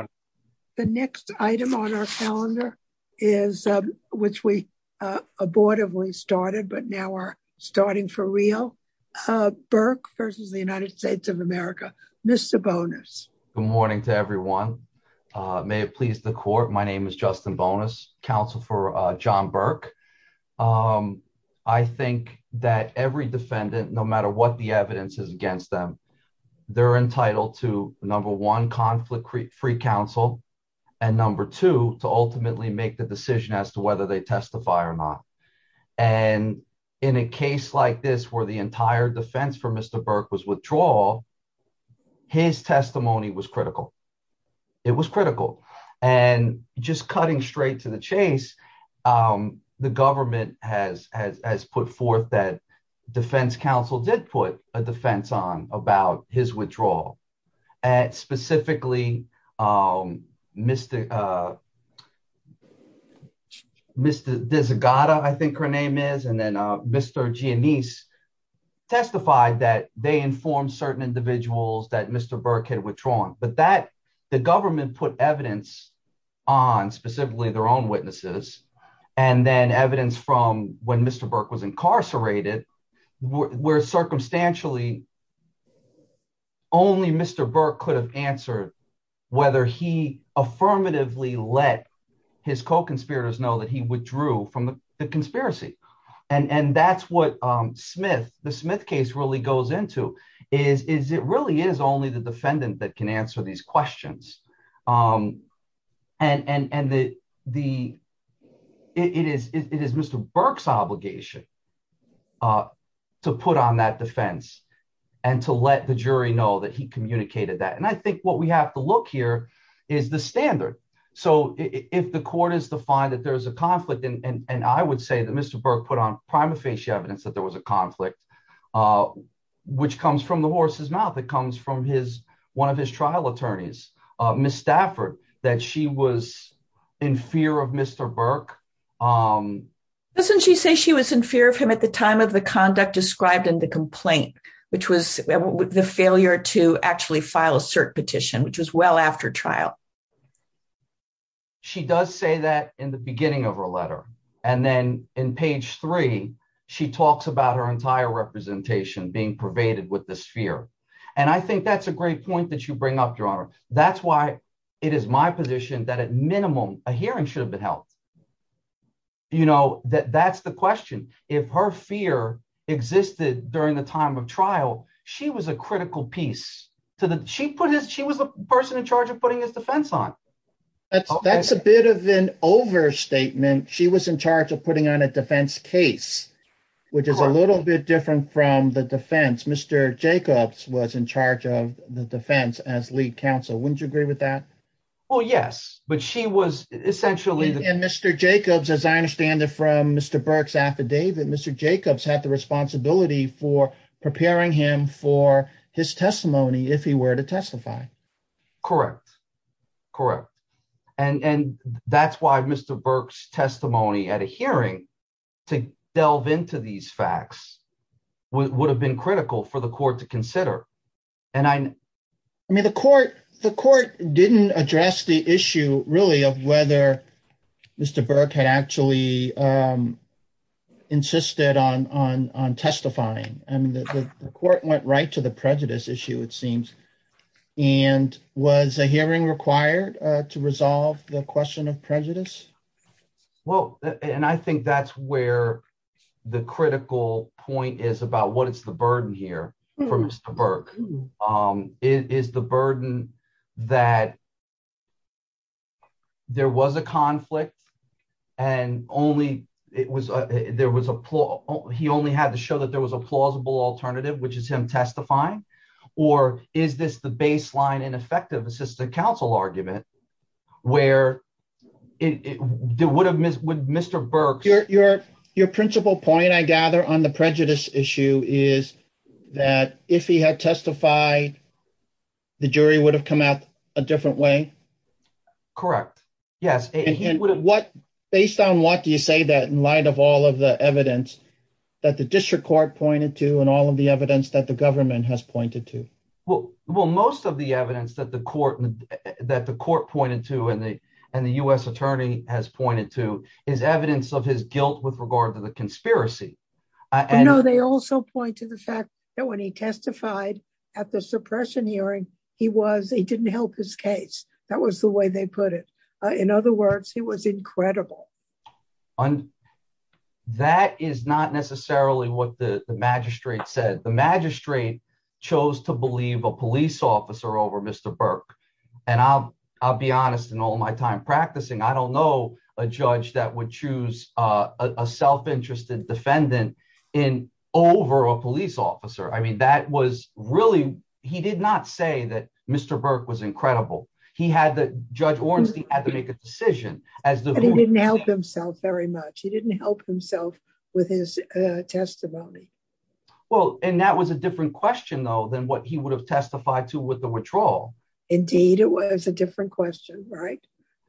of America, Mr. Bonas, the next item on our calendar is which we abortively started but now we're starting for real. Burke versus the United States of America, Mr bonus. Good morning to everyone. May it please the court my name is Justin bonus Council for john Burke. I think that every defendant, no matter what the evidence is against them. They're entitled to number one conflict free free counsel, and number two to ultimately make the decision as to whether they testify or not. And in a case like this where the entire defense for Mr Burke was withdrawal. His testimony was critical. It was critical, and just cutting straight to the chase. The government has has put forth that Defense Council did put a defense on about his withdrawal at specifically Mr. Mr. Mr. His co conspirators know that he withdrew from the conspiracy. And that's what Smith, the Smith case really goes into is is it really is only the defendant that can answer these questions. And and and the, the. It is, it is Mr Burke's obligation to put on that defense, and to let the jury know that he communicated that and I think what we have to look here is the standard. So, if the court is defined that there's a conflict and I would say that Mr Burke put on prima facie evidence that there was a conflict, which comes from the horse's mouth it comes from his one of his trial attorneys, Miss Stafford, that she was in fear of Mr Burke. Doesn't she say she was in fear of him at the time of the conduct described in the complaint, which was the failure to actually file a cert petition which was well after trial. She does say that in the beginning of her letter, and then in page three, she talks about her entire representation being pervaded with this fear. And I think that's a great point that you bring up your honor. That's why it is my position that at minimum, a hearing should have been held. You know that that's the question. If her fear existed during the time of trial, she was a critical piece to the she put his she was the person in charge of putting his defense on. That's a bit of an overstatement, she was in charge of putting on a defense case, which is a little bit different from the defense Mr Jacobs was in charge of the defense as lead counsel wouldn't you agree with that. Well, yes, but she was essentially and Mr Jacobs as I understand it from Mr Burke's affidavit Mr Jacobs had the responsibility for preparing him for his testimony if he were to testify. Correct. Correct. And that's why Mr Burke's testimony at a hearing to delve into these facts would have been critical for the court to consider. And I mean the court, the court didn't address the issue, really, of whether Mr Burke had actually insisted on on on testifying, and the court went right to the prejudice issue, it seems, and was a hearing required to resolve the question of prejudice. Well, and I think that's where the critical point is about what is the burden here from Mr Burke is the burden that there was a conflict. And only it was, there was a poor, he only had to show that there was a plausible alternative which is him testifying, or is this the baseline and effective assistant counsel argument where it would have missed with Mr Burke your, your, your principal point I gather on the prejudice issue is that if he had testified. The jury would have come out a different way. Correct. Yes. What, based on what do you say that in light of all of the evidence that the district court pointed to and all of the evidence that the government has pointed to. Well, well most of the evidence that the court that the court pointed to and the, and the US attorney has pointed to is evidence of his guilt with regard to the conspiracy. I know they also point to the fact that when he testified at the suppression hearing, he was he didn't help his case. That was the way they put it. In other words, he was incredible on. That is not necessarily what the magistrate said the magistrate chose to believe a police officer over Mr Burke, and I'll, I'll be honest and all my time practicing I don't know, a judge that would choose a self interested defendant in over a police officer I mean that was really, he did not say that Mr Burke was incredible. He had the judge Ornstein had to make a decision as the didn't help himself very much he didn't help himself with his testimony. Well, and that was a different question though than what he would have testified to with the withdrawal. Indeed, it was a different question right.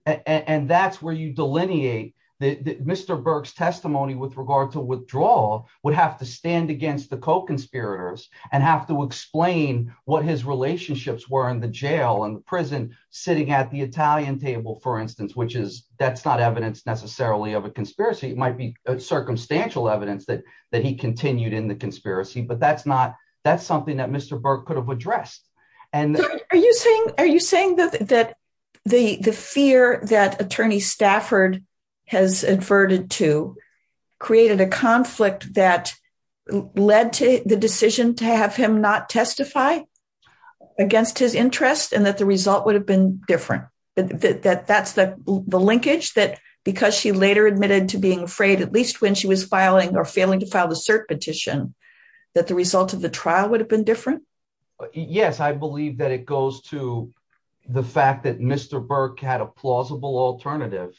And that's where you delineate that Mr Burke's testimony with regard to withdraw would have to stand against the co conspirators and have to explain what his relationships were in the jail and prison, sitting at the Italian table for instance which is, that's not evidence necessarily of a conspiracy might be a circumstantial evidence that that he continued in the conspiracy but that's not, that's something that Mr Burke could have addressed. And are you saying, are you saying that, that the the fear that attorney Stafford has inverted to created a conflict that led to the decision to have him not testify against his interest and that the result would have been different, that that's the linkage that because she later admitted to being afraid at least when she was filing or failing to file the cert petition that the result of the trial would have been different. Yes, I believe that it goes to the fact that Mr Burke had a plausible alternative.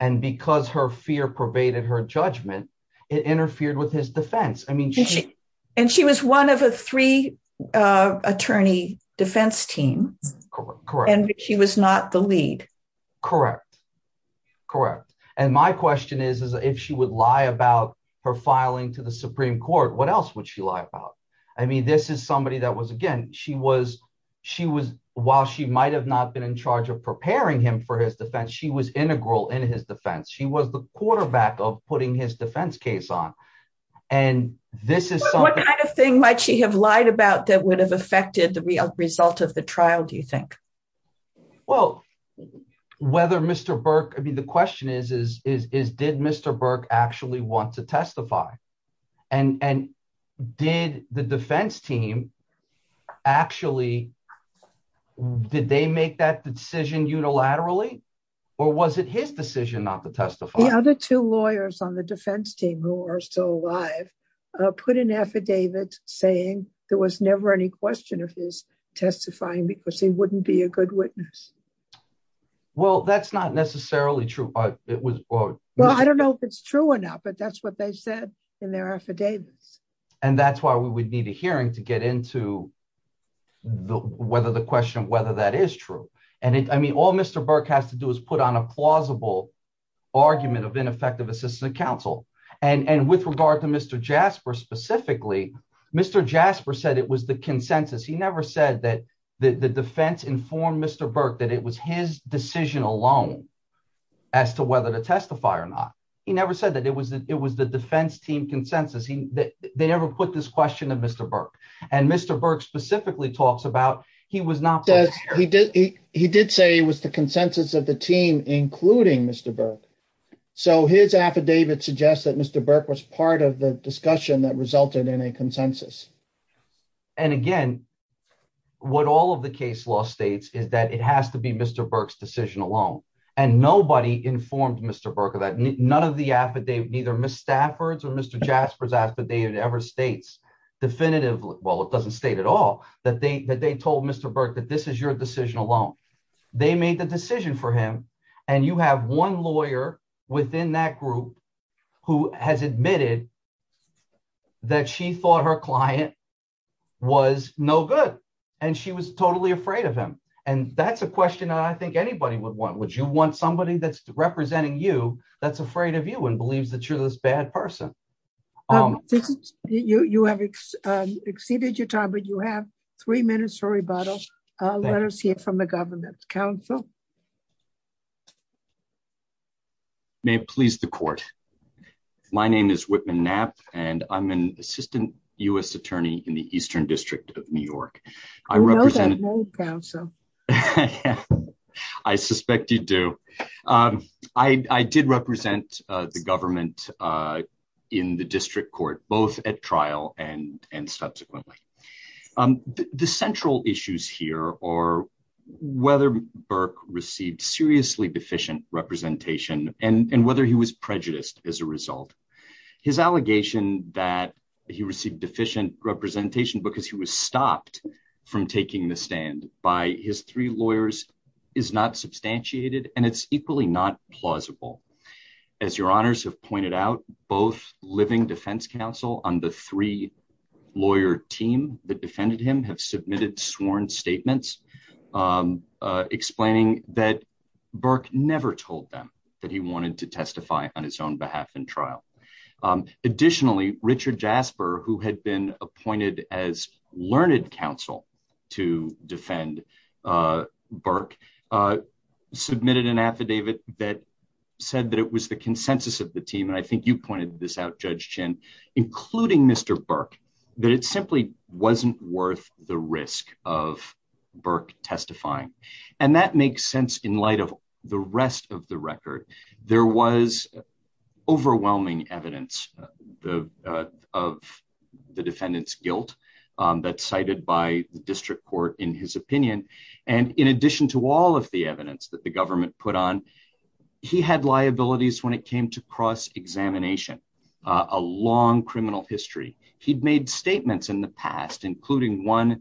And because her fear pervaded her judgment interfered with his defense, I mean, and she was one of the three attorney defense team. Correct. And she was not the lead. Correct. Correct. And my question is, is if she would lie about her filing to the Supreme Court, what else would she lie about. I mean this is somebody that was again, she was, she was, while she might have not been in charge of preparing him for his defense she was integral in his defense she was the quarterback of putting his defense case on. And this is what kind of thing might she have lied about that would have affected the result of the trial, do you think. Well, whether Mr Burke I mean the question is, is, is, did Mr Burke actually want to testify. And, and did the defense team. Actually, did they make that decision unilaterally, or was it his decision not to testify other two lawyers on the defense team who are still alive, put an affidavit, saying there was never any question of his testifying because he wouldn't be a good witness. Well, that's not necessarily true, but it was. Well, I don't know if it's true or not but that's what they said in their affidavits. And that's why we would need a hearing to get into the, whether the question whether that is true, and it I mean all Mr Burke has to do is put on a plausible argument of ineffective assistant counsel and and with regard to Mr Jasper specifically, Mr Jasper said it was the consensus he never said that the defense inform Mr Burke that it was his decision alone, as to whether to testify or not. He never said that it was it was the defense team consensus he that they ever put this question of Mr Burke, and Mr Burke And again, what all of the case law states is that it has to be Mr Burke's decision alone, and nobody informed Mr Burke that none of the affidavit either Miss Stafford's or Mr Jasper's affidavit ever states definitive well it doesn't state at all that they that they told Mr Burke that this is your decision alone. They made the decision for him, and you have one lawyer within that group who has admitted that she thought her client was no good. And she was totally afraid of him. And that's a question I think anybody would want would you want somebody that's representing you that's afraid of you and believes that you're this bad person. You have exceeded your time but you have three minutes for rebuttal. Let us hear from the government council may please the court. My name is Whitman nap, and I'm an assistant US attorney in the eastern district of New York. I represent. I suspect you do. I did represent the government in the district court, both at trial and and subsequently. The central issues here are whether Burke received seriously deficient representation, and whether he was prejudiced as a result. His allegation that he received deficient representation because he was stopped from taking the stand by his three lawyers is not substantiated and it's equally not plausible. As your honors have pointed out, both living defense counsel on the three lawyer team that defended him have submitted sworn statements, explaining that Burke never told them that he wanted to testify on his own behalf and trial. Additionally, Richard Jasper who had been appointed as learned counsel to defend Burke submitted an affidavit that said that it was the consensus of the team and I think you pointed this out judge chin, including Mr Burke, that it simply wasn't worth the evidence of the defendants guilt that cited by the district court, in his opinion, and in addition to all of the evidence that the government put on. He had liabilities when it came to cross examination, a long criminal history, he'd made statements in the past, including one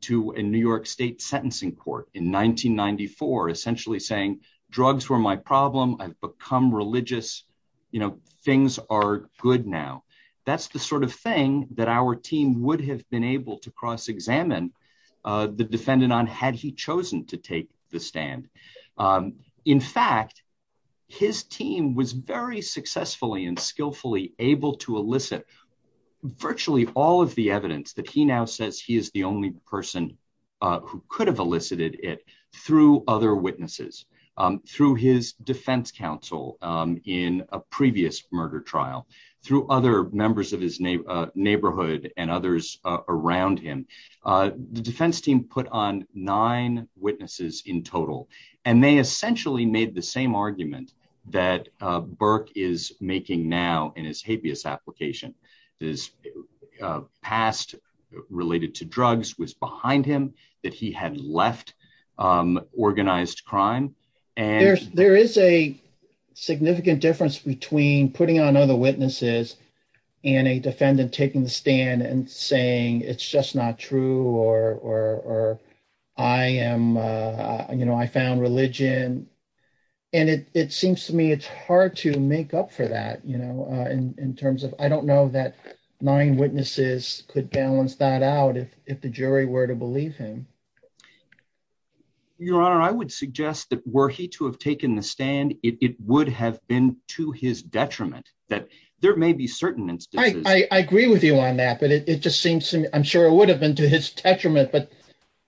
to a New York State sentencing court in 1994 essentially saying drugs were my problem I've become religious, you know, things are good now. That's the sort of thing that our team would have been able to cross examine the defendant on had he chosen to take the stand. In fact, his team was very successfully and skillfully able to elicit virtually all of the evidence that he now says he is the only person who could have elicited it through other witnesses through his defense counsel in a previous murder trial through other members of his neighborhood and others around him. The defense team put on nine witnesses in total, and they essentially made the same argument that Burke is making now in his habeas application is past related to drugs was behind him that he had left organized crime. There is a significant difference between putting on other witnesses and a defendant taking the stand and saying it's just not true or I am, you know, I found religion, and it seems to me it's hard to make up for that, you know, in terms of, I don't know that nine witnesses could balance that out if the jury were to believe him. Your Honor, I would suggest that were he to have taken the stand, it would have been to his detriment that there may be certain instances, I agree with you on that but it just seems to me I'm sure it would have been to his detriment but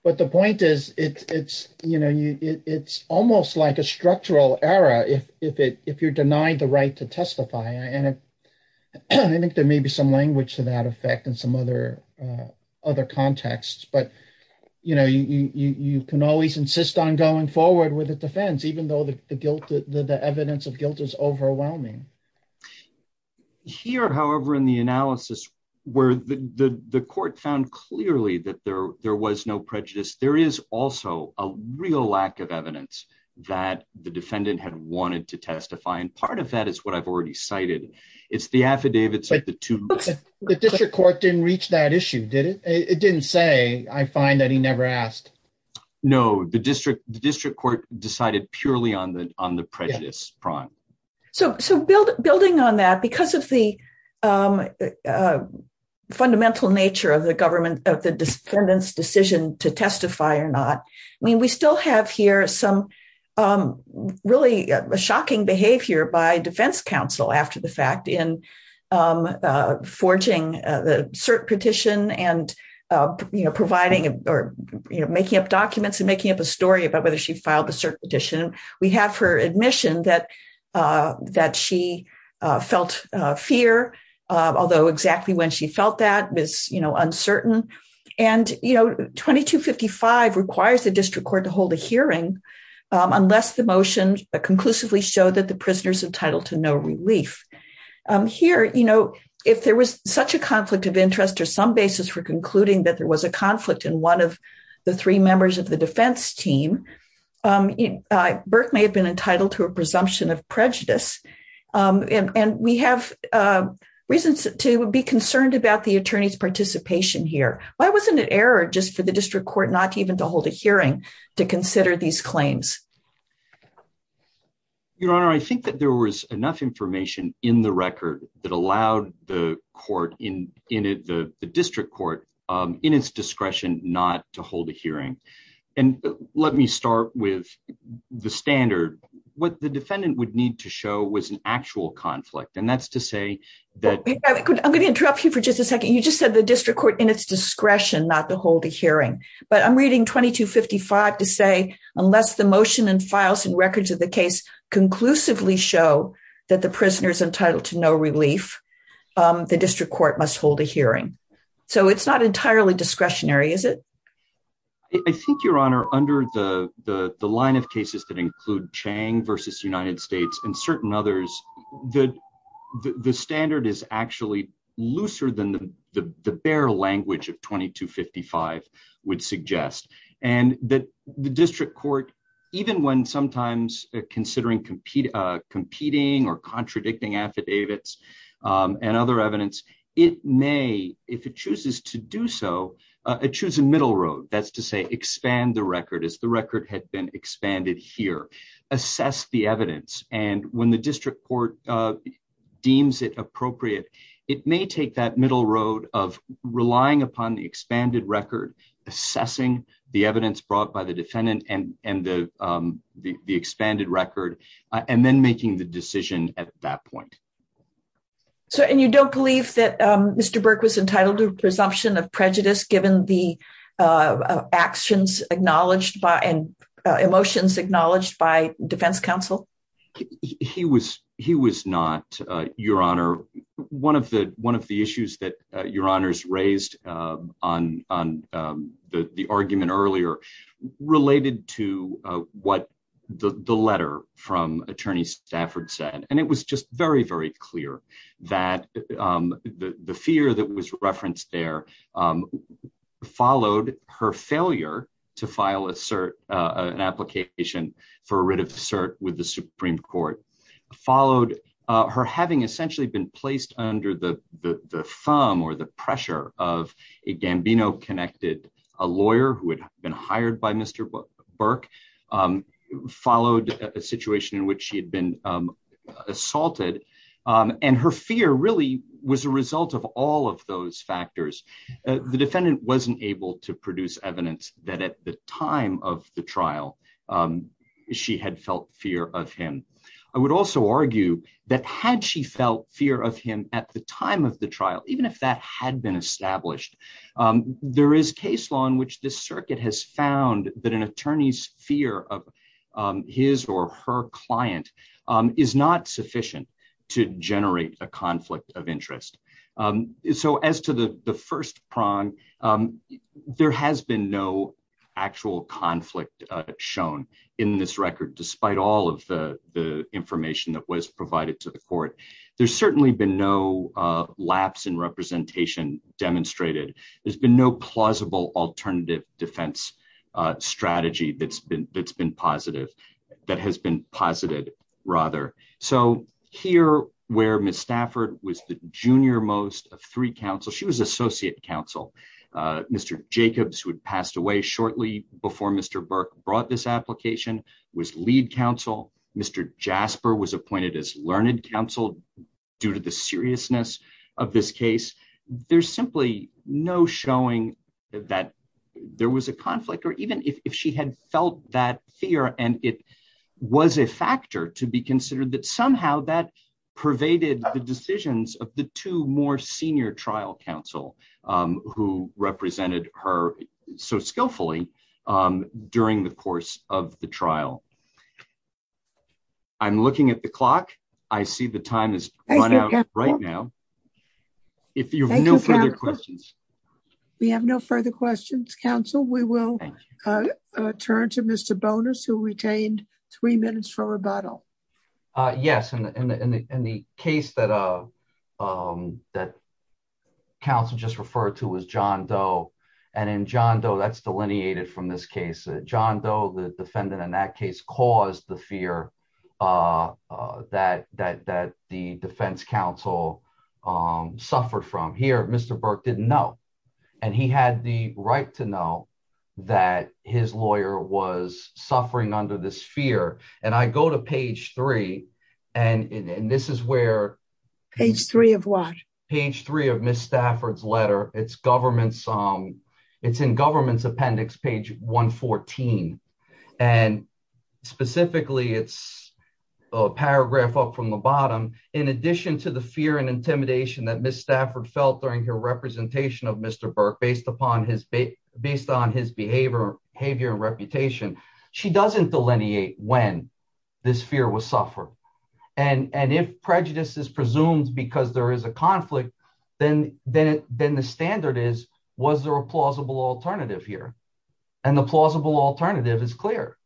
but the point is, it's, you know, it's almost like a structural error if, if it if you're denied the right to testify and I think there may be some language to that effect and some other other contexts but you know you can always insist on going forward with a defense, even though the guilt of the evidence of guilt is overwhelming. Here, however, in the analysis, where the court found clearly that there, there was no prejudice, there is also a real lack of evidence that the defendant had wanted to testify and part of that is what I've already cited. It's the affidavits. The District Court didn't reach that issue did it, it didn't say, I find that he never asked. No, the district, the district court decided purely on the, on the prejudice prime. So, so build, building on that because of the fundamental nature of the government of the defendant's decision to testify or not. I mean we still have here some really shocking behavior by defense counsel after the fact in forging the cert petition and, you know, providing or making up documents and making up a story about whether she filed the cert petition, we have her admission that, that she felt fear, although exactly when she felt that was, you know, uncertain, and, you know, 2255 requires the district court to hold a hearing, unless the motion conclusively show that the prisoners entitled to no relief. Here, you know, if there was such a conflict of interest or some basis for concluding that there was a conflict in one of the three members of the defense team. Burke may have been entitled to a presumption of prejudice, and we have reasons to be concerned about the attorneys participation here, why wasn't it error just for the district court not even to hold a hearing to consider these claims. Your Honor, I think that there was enough information in the record that allowed the court in in the district court in its discretion, not to hold a hearing. And let me start with the standard, what the defendant would need to show was an actual conflict and that's to say that I'm going to interrupt you for just a second you just said the district court in its discretion, not to hold a hearing, but I'm reading 2255 to say, unless the motion and files and records of the case conclusively show that the prisoners entitled to no relief. The district court must hold a hearing. So it's not entirely discretionary is it. I think your honor under the, the, the line of cases that include Chang versus United States and certain others that the standard is actually looser than the, the, the bare language of 2255 would suggest, and that the district court, even when sometimes considering competing competing or contradicting affidavits and other evidence, it may, if it chooses to do so, choose a middle road, that's to say expand the record is the record had been expanded here, assess the evidence, and when the district court deems it appropriate. It may take that middle road of relying upon the expanded record, assessing the evidence brought by the defendant and, and the, the expanded record, and then making the decision at that point. So, and you don't believe that Mr Burke was entitled to presumption of prejudice given the actions, acknowledged by and emotions acknowledged by defense counsel. He was, he was not your honor. One of the, one of the issues that your honors raised on on the argument earlier, related to what the letter from attorney Stafford said and it was just very very clear that the fear that was referenced there followed her failure to file a cert an application for a writ of cert with the Supreme Court followed her having essentially been placed under the thumb or the pressure of a Gambino connected a lawyer who had been hired by Mr. Burke followed a situation in which she had been assaulted, and her fear really was a result of all of those factors, the defendant wasn't able to produce evidence that at the time of the trial. She had felt fear of him. I would also argue that had she felt fear of him at the time of the trial, even if that had been established. There is case law in which the circuit has found that an attorney's fear of his or her client is not sufficient to generate a conflict of interest. So as to the first prong. There has been no actual conflict shown in this record despite all of the information that was provided to the court. There's certainly been no lapse in representation, demonstrated, there's been no plausible alternative defense strategy that's been that's been positive. That has been posited rather. So, here, where Miss Stafford was the junior most of three council she was associate counsel, Mr. Jacobs who had passed away shortly before Mr Burke brought this application was lead counsel, Mr. Jasper was appointed as learned counsel, due to the seriousness of this case, there's simply no showing that there was a conflict or even if she had felt that fear and it was a factor to be considered that somehow that pervaded the decisions of the two more I'm looking at the clock. I see the time is right now. If you have no further questions. We have no further questions council we will turn to Mr bonus who retained three minutes for rebuttal. Yes, and the case that a that council just referred to was john doe, and in john doe that's delineated from this case john doe the defendant in that case caused the fear that that that the defense counsel suffered from here, Mr. And he had the right to know that his lawyer was suffering under this fear, and I go to page three. And this is where page three of what page three of Miss Stafford's letter, it's government song. It's in government's appendix page 114, and specifically it's a paragraph up from the bottom. In addition to the fear and intimidation that Miss Stafford felt during her representation of Mr. reputation. She doesn't delineate when this fear was suffer. And, and if prejudice is presumed because there is a conflict, then, then, then the standard is, was there a plausible alternative here. And the plausible alternative is clear.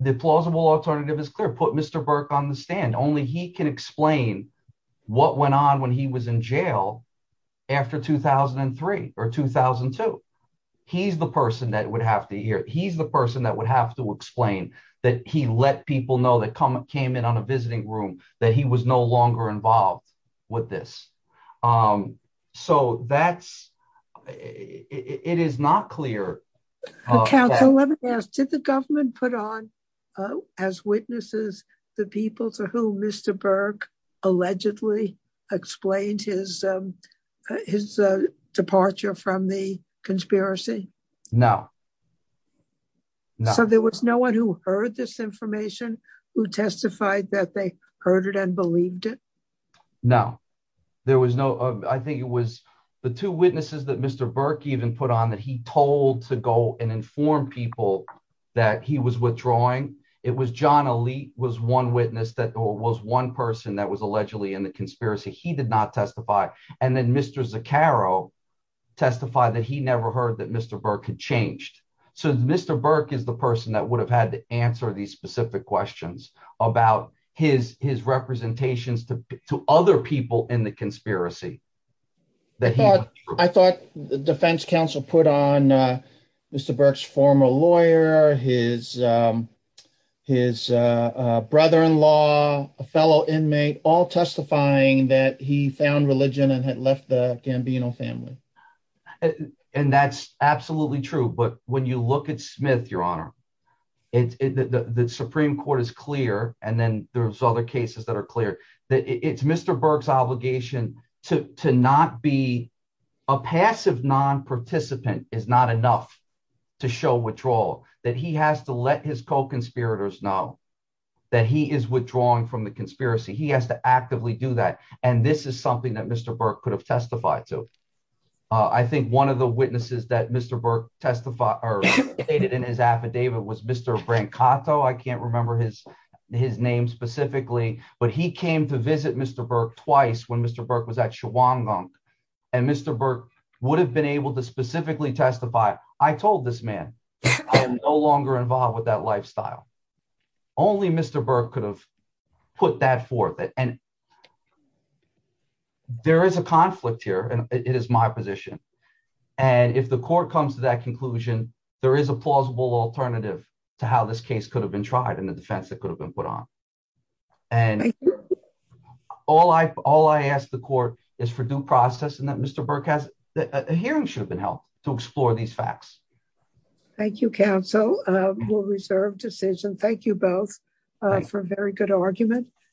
The plausible alternative is clear put Mr Burke on the stand only he can explain what went on when he was in jail. After 2003 or 2002. He's the person that would have to hear, he's the person that would have to explain that he let people know that come up came in on a visiting room that he was no longer involved with this. So that's, it is not clear. Did the government put on as witnesses, the people to who Mr Burke allegedly explained his, his departure from the conspiracy. Now, so there was no one who heard this information, who testified that they heard it and believed it. No, there was no, I think it was the two witnesses that Mr Burke even put on that he told to go and inform people that he was withdrawing. It was john elite was one witness that was one person that was allegedly in the conspiracy he did not testify, and there were other people in the conspiracy that I thought the defense counsel put on Mr Burke's former lawyer, his, his brother in law, a fellow inmate all testifying that he found religion and had left the Gambino family. And that's absolutely true but when you look at Smith, Your Honor, it's the Supreme Court is clear, and then there's other cases that are clear that it's Mr Burke's obligation to not be a passive non participant is not enough to show withdrawal that he has to let his co conspirators know that he is withdrawing from the conspiracy he has to actively do that. And this is something that Mr Burke could have testified to. I think one of the witnesses that Mr Burke testify, or stated in his affidavit was Mr Brent Kato I can't remember his, his name specifically, but he came to visit Mr Burke twice when Mr Burke was actually one month. And Mr Burke would have been able to specifically testify, I told this man, no longer involved with that lifestyle. Only Mr Burke could have put that forth and there is a conflict here and it is my position. And if the court comes to that conclusion, there is a plausible alternative to how this case could have been tried and the defense that could have been put on. And all I all I asked the court is for due process and that Mr Burke has a hearing should have been held to explore these facts. Thank you counsel will reserve decision. Thank you both for a very good argument.